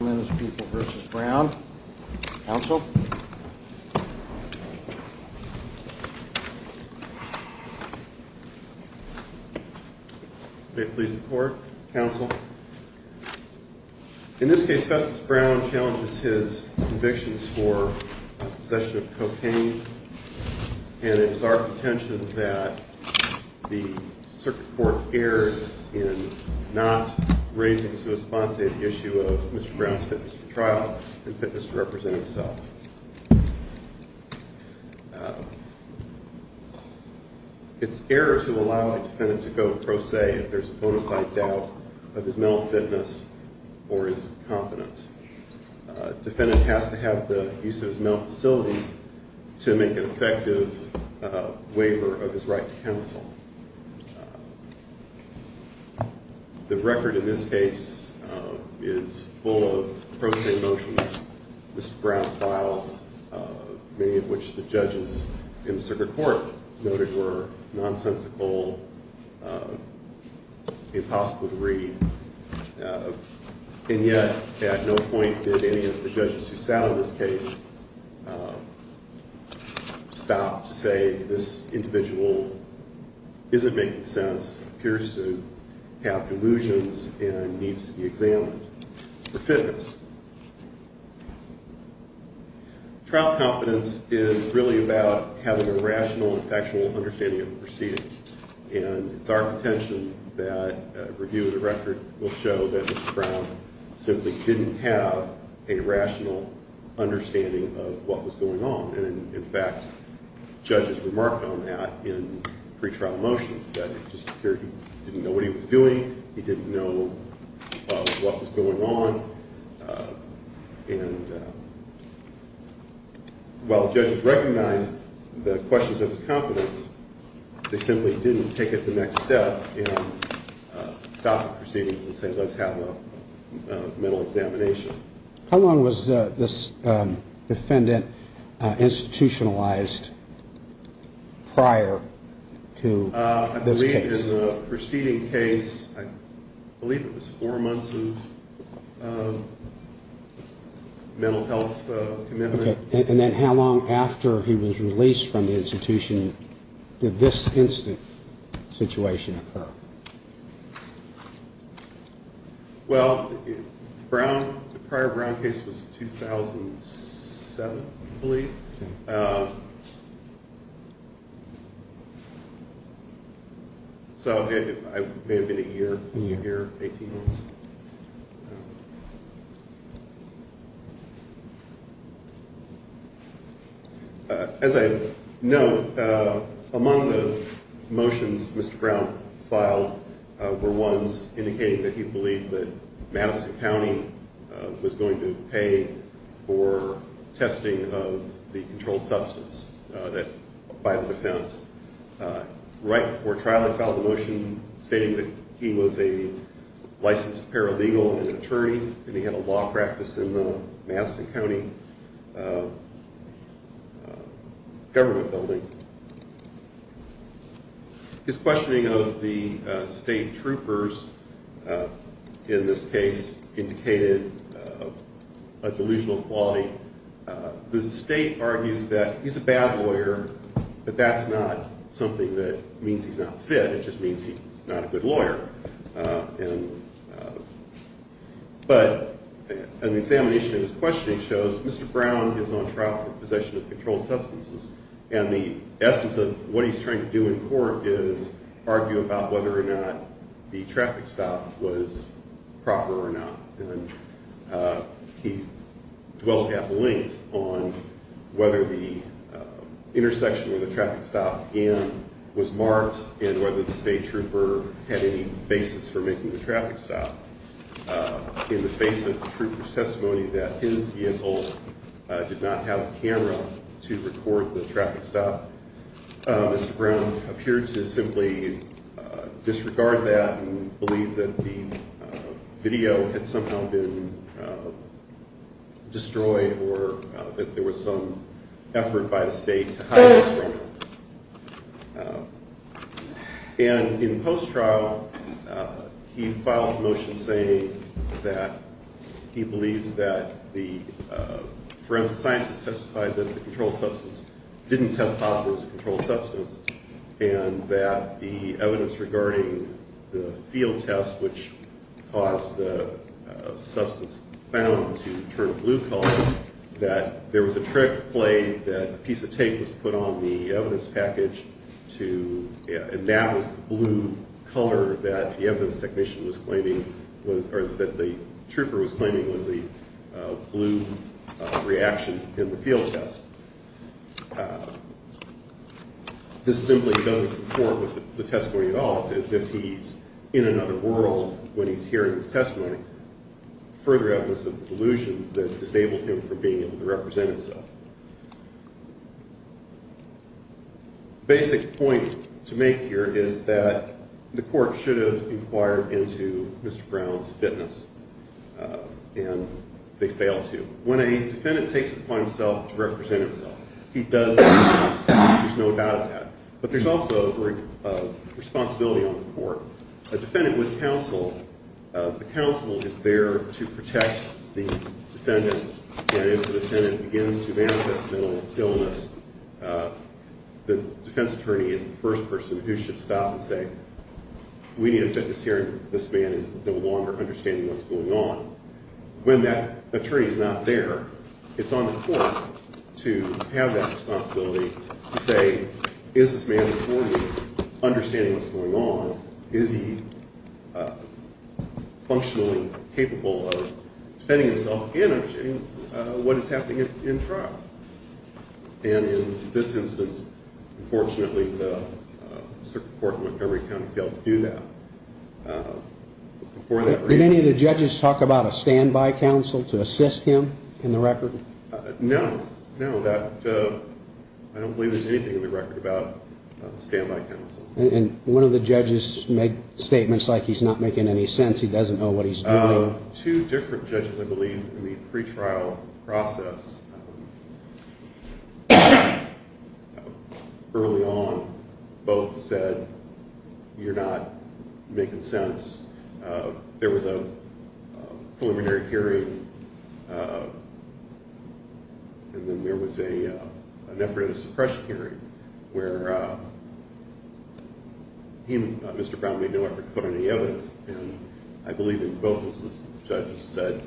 in this case Justice Brown challenges his convictions for possession of cocaine and it is our contention that the circuit court erred in not raising the issue of Mr. Brown's fitness for trial and fitness to represent himself. It's error to allow a defendant to go pro se if there's a bona fide doubt of his mental fitness or his confidence. A defendant has to have the use of his mental facilities to make an effective waiver of his right to counsel. The record in this case is full of pro se motions, Mr. Brown files, many of which the judges in the circuit court noted were nonsensical, impossible to read, and yet at no point did any of the judges who sat on this case stop to say this individual isn't making sense, appears to have delusions, and needs to be examined for fitness. Trial confidence is really about having a rational and factual understanding of the proceedings and it's our contention that a review of the record will show that Mr. Brown simply didn't have a rational understanding of what was going on and in fact judges remarked on that in pretrial motions that it just appeared he didn't know what he was doing, he didn't know what was going on, and while judges recognized the questions of his confidence, they simply didn't take it to the next step and stop the proceedings and say let's have a mental examination. How long was this defendant institutionalized prior to this case? I believe in the preceding case, I believe it was four months of mental health commitment. And then how long after he was released from the institution did this instant situation occur? Well, the prior Brown case was 2007, I believe, so it may have been a year, 18 months. As I note, among the motions Mr. Brown filed were ones indicating that he believed that Madison County was going to pay for testing of the controlled substance, that bio-defense. Right before trial he filed a motion stating that he was a licensed paralegal and attorney and he had a law practice in the Madison County Government Building. His questioning of the state troopers in this case indicated a delusional quality. The state argues that he's a bad lawyer, but that's not something that means he's not fit, it just means he's not a good lawyer. But an examination of his questioning shows Mr. Brown is on trial for possession of controlled substances and the essence of what he's trying to do in court is argue about whether or not the traffic stop was proper or not. He dwelt at length on whether the intersection where the traffic stop was marked and whether the state trooper had any basis for making the traffic stop. In the face of the trooper's testimony that his vehicle did not have a camera to record the traffic stop, Mr. Brown appeared to simply disregard that and believe that the video had somehow been destroyed or that there was some effort by the state to hide this from him. And in post-trial he filed a motion saying that he believes that the forensic scientist testified that the controlled substance didn't test positive as a controlled substance and that the evidence regarding the field test which caused the substance found to turn blue color, that there was a trick play that a piece of tape was put on the evidence package to, and that was the blue color that the evidence technician was claiming, or that the trooper was claiming was the blue reaction in the field test. This simply doesn't conform with the testimony at all. It's as if he's in another world when he's hearing this testimony, further evidence of delusion that disabled him from being able to represent himself. The basic point to make here is that the court should have inquired into Mr. Brown's fitness, and they failed to. When a defendant takes it upon himself to represent himself, he does that. There's no doubt of that. But there's also a responsibility on the court. A defendant with counsel, the counsel is there to protect the defendant, and if the defendant begins to manifest a mental illness, the defense attorney is the first person who should stop and say, we need a fitness hearing. This man is no longer understanding what's going on. When that attorney is not there, it's on the court to have that responsibility to say, is this man before me understanding what's going on? Is he functionally capable of defending himself and understanding what is happening in trial? And in this instance, unfortunately, the circuit court in Montgomery County failed to do that. Did any of the judges talk about a standby counsel to assist him in the record? No, no. I don't believe there's anything in the record about a standby counsel. And one of the judges made statements like he's not making any sense, he doesn't know what he's doing. Two different judges, I believe, in the pretrial process early on both said, you're not making sense. There was a preliminary hearing, and then there was an effort at a suppression hearing, where Mr. Brown made no effort to put any evidence, and I believe in both judges said,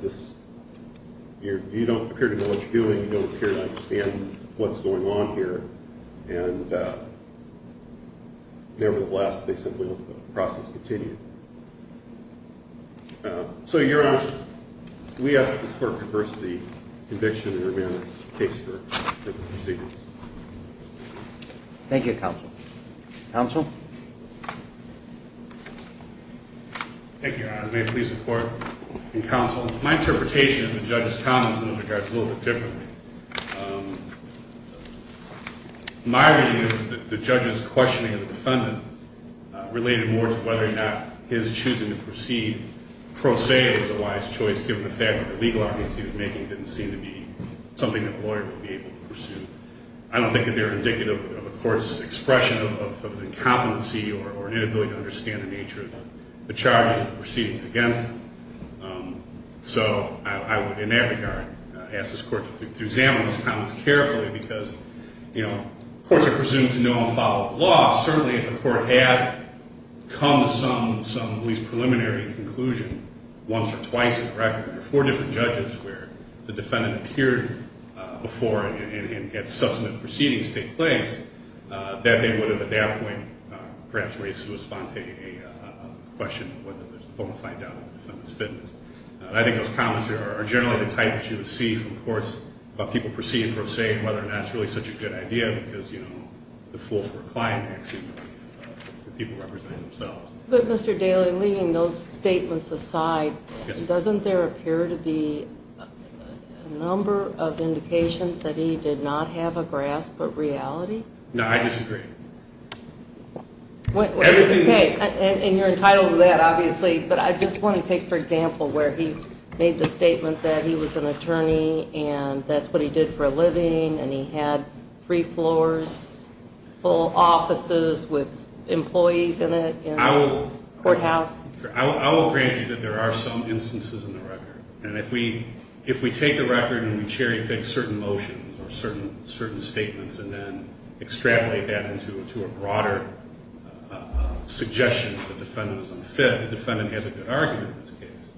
you don't appear to know what you're doing, you don't appear to understand what's going on here, and nevertheless, they simply let the process continue. So, Your Honor, we ask the support of diversity, conviction, and remand in this case for the proceedings. Thank you, counsel. Counsel? Thank you, Your Honor. May it please the court and counsel, my interpretation of the judge's comments in this regard is a little bit different. My reading is that the judge's questioning of the defendant related more to whether or not his choosing to proceed pro se was a wise choice given the fact that the legal arguments he was making didn't seem to be something the lawyer would be able to pursue. I don't think that they're indicative of a court's expression of an incompetency or an inability to understand the nature of the charges or the proceedings against them. So I would, in that regard, ask this court to examine those comments carefully because, you know, courts are presumed to know and follow the law. Certainly if the court had come to some at least preliminary conclusion once or twice in the record, or four different judges where the defendant appeared before and had subsequent proceedings take place, that they would have at that point perhaps raised to a sponte a question of whether there's a bona fide doubt that the defendant's fitness. I think those comments are generally the type that you would see from courts about people proceeding pro se and whether or not it's really such a good idea because, you know, the fool for a client, actually, the people representing themselves. But, Mr. Daly, leaving those statements aside, doesn't there appear to be a number of indications that he did not have a grasp of reality? No, I disagree. Okay. And you're entitled to that, obviously. But I just want to take, for example, where he made the statement that he was an attorney and that's what he did for a living and he had three floors, full offices with employees in it, in the courthouse. I will grant you that there are some instances in the record. And if we take the record and we cherry pick certain motions or certain statements and then extrapolate that into a broader suggestion that the defendant was unfit, the defendant has a good argument in this case.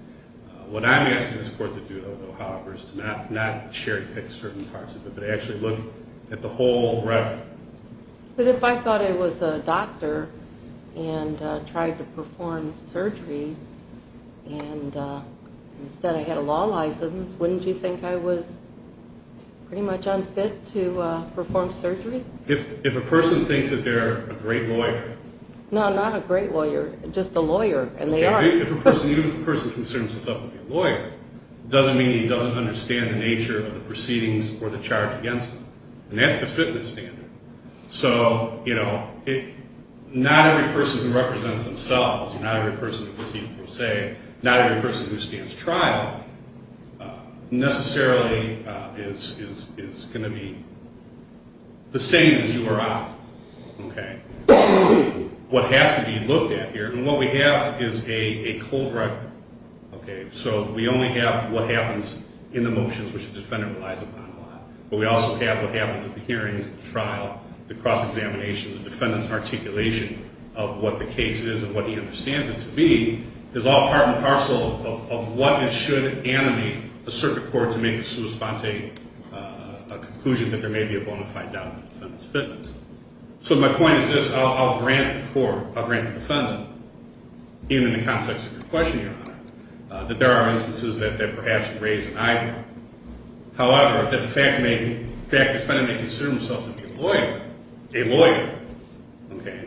What I'm asking this Court to do, though, however, is to not cherry pick certain parts of it, but actually look at the whole record. But if I thought I was a doctor and tried to perform surgery and instead I had a law license, wouldn't you think I was pretty much unfit to perform surgery? If a person thinks that they're a great lawyer. No, not a great lawyer, just a lawyer, and they are. Even if a person concerns himself with being a lawyer, it doesn't mean he doesn't understand the nature of the proceedings or the charge against him. And that's the fitness standard. So, you know, not every person who represents themselves, not every person who receives per se, not every person who stands trial, necessarily is going to be the same as you or I. Okay? What has to be looked at here, and what we have is a cold record. Okay? So we only have what happens in the motions which the defendant relies upon a lot. But we also have what happens at the hearings, at the trial, the cross-examination, the defendant's articulation of what the case is and what he understands it to be, is all part and parcel of what it should animate a circuit court to make a sua sponte, a conclusion that there may be a bona fide doubt in the defendant's fitness. So my point is this. I'll grant the court, I'll grant the defendant, even in the context of your question, Your Honor, that there are instances that perhaps raise an eyebrow. However, the fact that the defendant may consider himself to be a lawyer, a lawyer,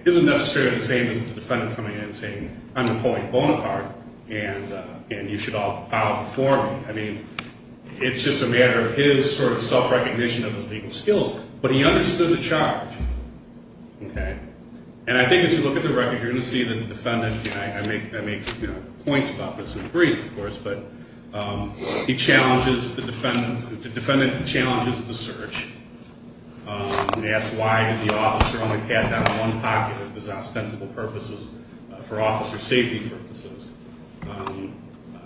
isn't necessarily the same as the defendant coming in and saying, I'm Napoleon Bonaparte, and you should all bow before me. I mean, it's just a matter of his sort of self-recognition of his legal skills. But he understood the charge. Okay? And I think as you look at the record, you're going to see that the defendant, and I make points about this in the brief, of course, but he challenges the defendant, the defendant challenges the search and asks why did the officer only pat down one pocket, if his ostensible purpose was for officer safety purposes.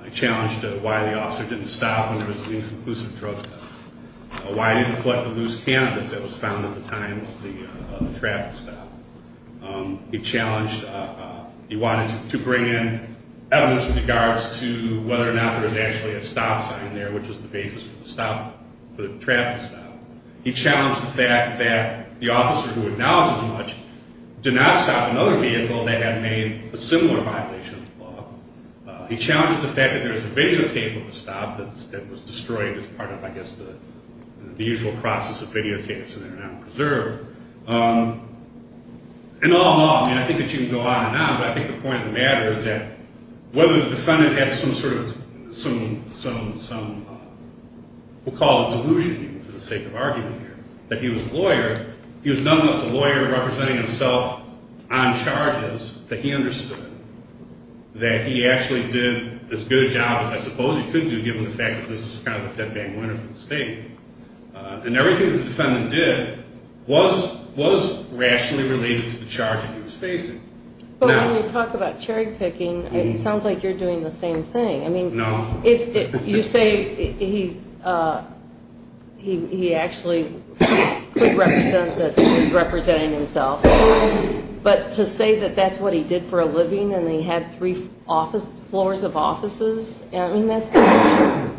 He challenged why the officer didn't stop when there was an inconclusive drug test, why he didn't collect the loose cannabis that was found at the time of the traffic stop. He challenged, he wanted to bring in evidence with regards to whether or not there was actually a stop sign there, which was the basis for the stop, for the traffic stop. He challenged the fact that the officer who acknowledged as much did not stop another vehicle that had made a similar violation of the law. He challenged the fact that there was a videotape of the stop that was destroyed as part of, I guess, the usual process of videotapes that are now preserved. And all in all, and I think that you can go on and on, but I think the point of the matter is that whether the defendant had some sort of, we'll call it delusion even for the sake of argument here, that he was a lawyer, he was nonetheless a lawyer representing himself on charges that he understood that he actually did as good a job as I suppose he could do, even the fact that this was kind of a dead bag winner for the state. And everything the defendant did was rationally related to the charge that he was facing. But when you talk about cherry picking, it sounds like you're doing the same thing. I mean, if you say he actually could represent that he was representing himself, but to say that that's what he did for a living and he had three floors of offices, I mean, that's not true.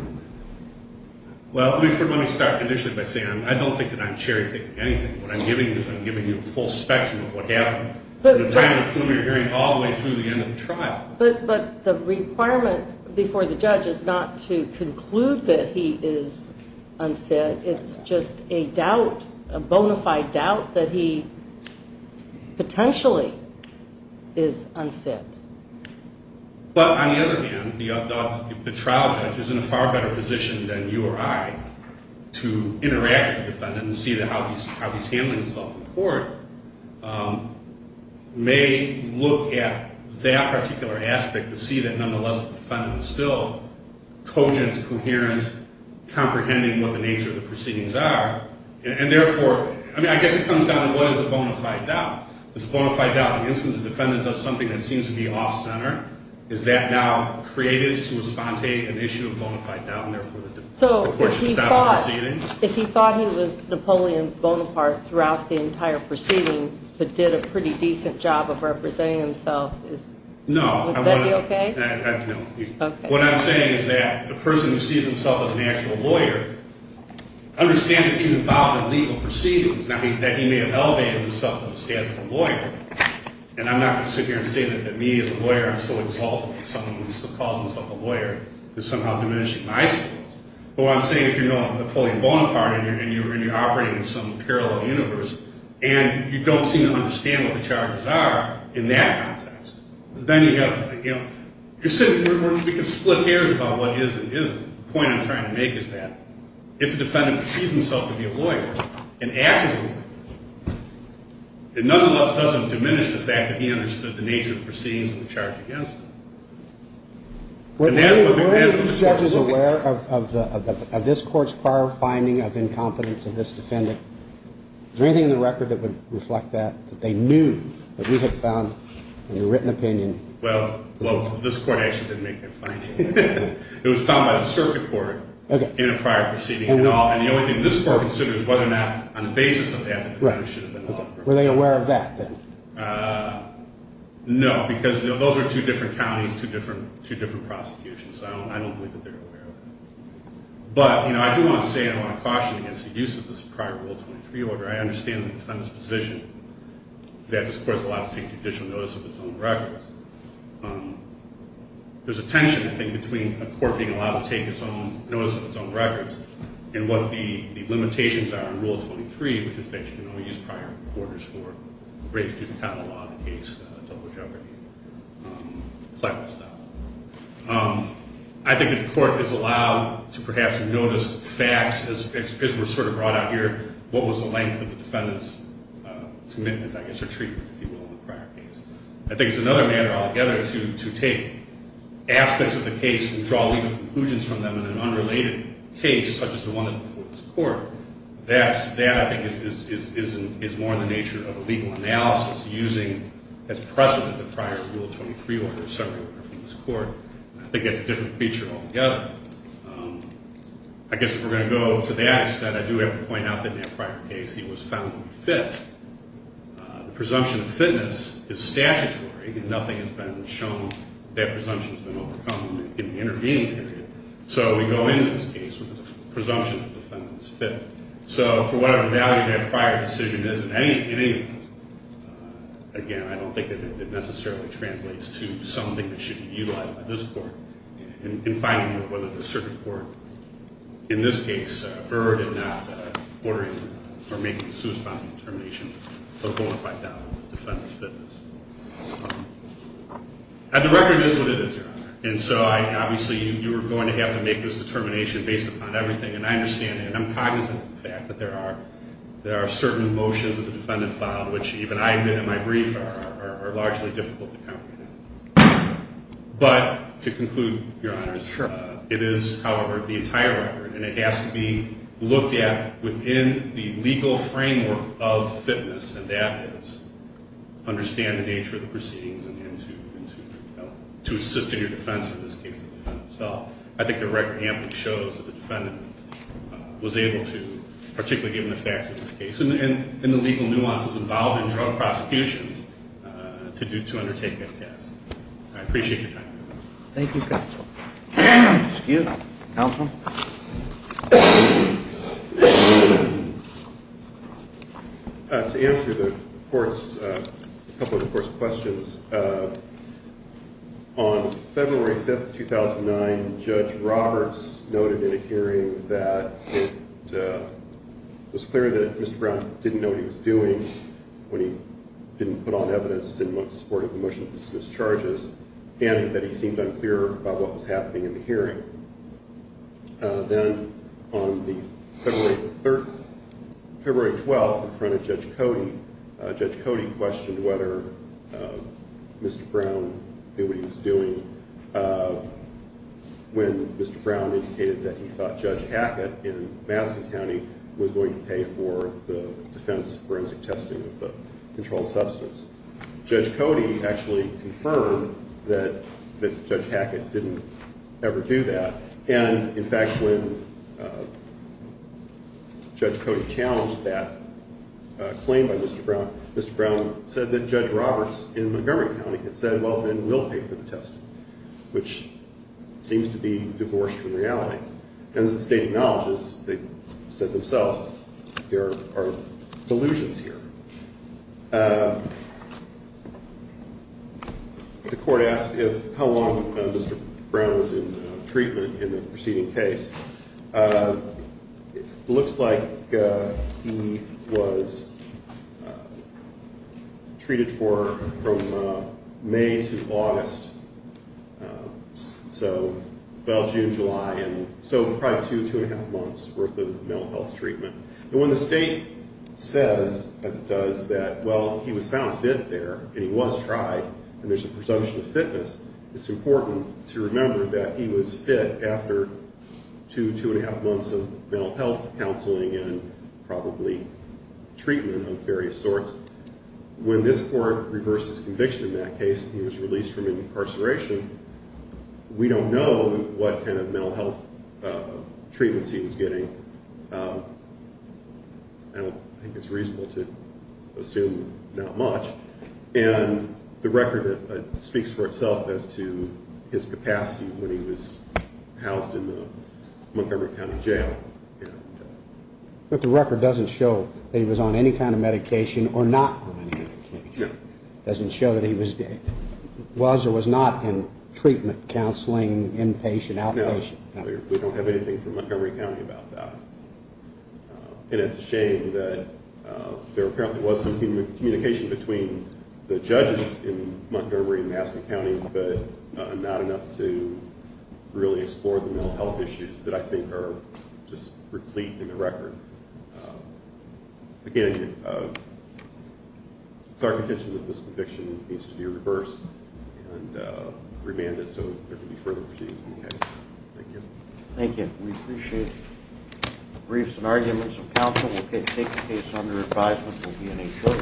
Well, let me start initially by saying I don't think that I'm cherry picking anything. What I'm giving you is I'm giving you a full spectrum of what happened from the time of the plume you're hearing all the way through the end of the trial. But the requirement before the judge is not to conclude that he is unfit. It's just a doubt, a bona fide doubt that he potentially is unfit. But on the other hand, the trial judge is in a far better position than you or I to interact with the defendant and see how he's handling himself in court, may look at that particular aspect to see that nonetheless the defendant is still cogent, coherent, comprehending what the nature of the proceedings are. And therefore, I mean, I guess it comes down to what is a bona fide doubt? Is a bona fide doubt the instance the defendant does something that seems to be off-center? Is that now creative, sui sponte, an issue of bona fide doubt, and therefore the court should stop the proceedings? So if he thought he was Napoleon Bonaparte throughout the entire proceeding but did a pretty decent job of representing himself, would that be okay? No. Okay. What I'm saying is that the person who sees himself as an actual lawyer understands that he's involved in legal proceedings, that he may have elevated himself to the status of a lawyer. And I'm not going to sit here and say that me, as a lawyer, I'm so exalted that someone who calls himself a lawyer is somehow diminishing my status. But what I'm saying is if you're Napoleon Bonaparte and you're operating in some parallel universe and you don't seem to understand what the charges are in that context, then you have, you know, we can split hairs about what is and isn't. The point I'm trying to make is that if the defendant perceives himself to be a lawyer and acts as a lawyer, it nonetheless doesn't diminish the fact that he understood the nature of the proceedings and the charge against him. And that is what the court should do. Were any of these judges aware of this court's prior finding of incompetence of this defendant? Is there anything in the record that would reflect that, that they knew that we had found in a written opinion? Well, this court actually didn't make that finding. It was found by the circuit court in a prior proceeding. And the only thing this court considers is whether or not, on the basis of that, the defendant should have been allowed to proceed. Were they aware of that, then? No, because those are two different counties, two different prosecutions. I don't believe that they're aware of that. But, you know, I do want to say and I want to caution against the use of this prior Rule 23 order. I understand the defendant's position that this court is allowed to take judicial notice of its own records. There's a tension, I think, between a court being allowed to take its own notice of its own records and what the limitations are in Rule 23, which is that you can only use prior orders for breaches to the county law in the case of double jeopardy. I think that the court is allowed to perhaps notice facts, as was sort of brought out here, what was the length of the defendant's commitment, I guess, or treatment, if you will, in the prior case. I think it's another matter altogether to take aspects of the case and draw legal conclusions from them in an unrelated case, such as the one that's before this Court. That, I think, is more in the nature of a legal analysis, using as precedent the prior Rule 23 order separate from this Court. I think that's a different feature altogether. I guess if we're going to go to that, instead I do have to point out that in that prior case he was found unfit. The presumption of fitness is statutory. Nothing has been shown that that presumption has been overcome in the intervening period. So we go into this case with a presumption of the defendant's fitness. So for whatever value that prior decision is in any of these, again, I don't think that it necessarily translates to something that should be utilized by this Court in finding whether the circuit court, in this case, is averred in not ordering or making a suspended determination of a bona fide doubt of the defendant's fitness. The record is what it is, Your Honor. And so obviously you are going to have to make this determination based upon everything. And I understand and I'm cognizant of the fact that there are certain motions that the defendant filed, which even I admit in my brief are largely difficult to comprehend. But to conclude, Your Honors, it is, however, the entire record, and it has to be looked at within the legal framework of fitness, and that is understand the nature of the proceedings and to assist in your defense in this case. So I think the record amply shows that the defendant was able to, particularly given the facts of this case and the legal nuances involved in drug prosecutions, to undertake that task. I appreciate your time, Your Honor. Thank you, Counsel. Excuse me, Counsel. To answer the Court's, a couple of the Court's questions, on February 5, 2009, Judge Roberts noted in a hearing that it was clear that Mr. Brown didn't know what he was doing when he didn't put on evidence in support of the motion to dismiss charges and that he seemed unclear about what was happening in the hearing. Then on February 12, in front of Judge Cody, Judge Cody questioned whether Mr. Brown knew what he was doing when Mr. Brown indicated that he thought Judge Hackett in Madison County was going to pay for the defense forensic testing of the controlled substance. Judge Cody actually confirmed that Judge Hackett didn't ever do that. And, in fact, when Judge Cody challenged that claim by Mr. Brown, Mr. Brown said that Judge Roberts in Montgomery County had said, well, then we'll pay for the testing, which seems to be divorced from reality. But as the state acknowledges, they said themselves, there are delusions here. The Court asked how long Mr. Brown was in treatment in the preceding case. It looks like he was treated for from May to August, so about June, July, and so probably two, two-and-a-half months worth of mental health treatment. And when the state says, as it does, that, well, he was found fit there and he was tried, and there's a presumption of fitness, it's important to remember that he was fit after two, two-and-a-half months of mental health counseling and probably treatment of various sorts. When this Court reversed its conviction in that case, he was released from incarceration, we don't know what kind of mental health treatments he was getting. I don't think it's reasonable to assume not much. And the record speaks for itself as to his capacity when he was housed in the Montgomery County jail. But the record doesn't show that he was on any kind of medication or not on any medication. It doesn't show that he was or was not in treatment, counseling, inpatient, outpatient. No, we don't have anything from Montgomery County about that. And it's a shame that there apparently was some communication between the judges in Montgomery and Massachusetts County, but not enough to really explore the mental health issues that I think are just replete in the record. Again, it's our contention that this conviction needs to be reversed and remanded so there can be further proceedings in the case. Thank you. Thank you. We appreciate the briefs and arguments of counsel. We'll take the case under advisement. We'll be in a short time.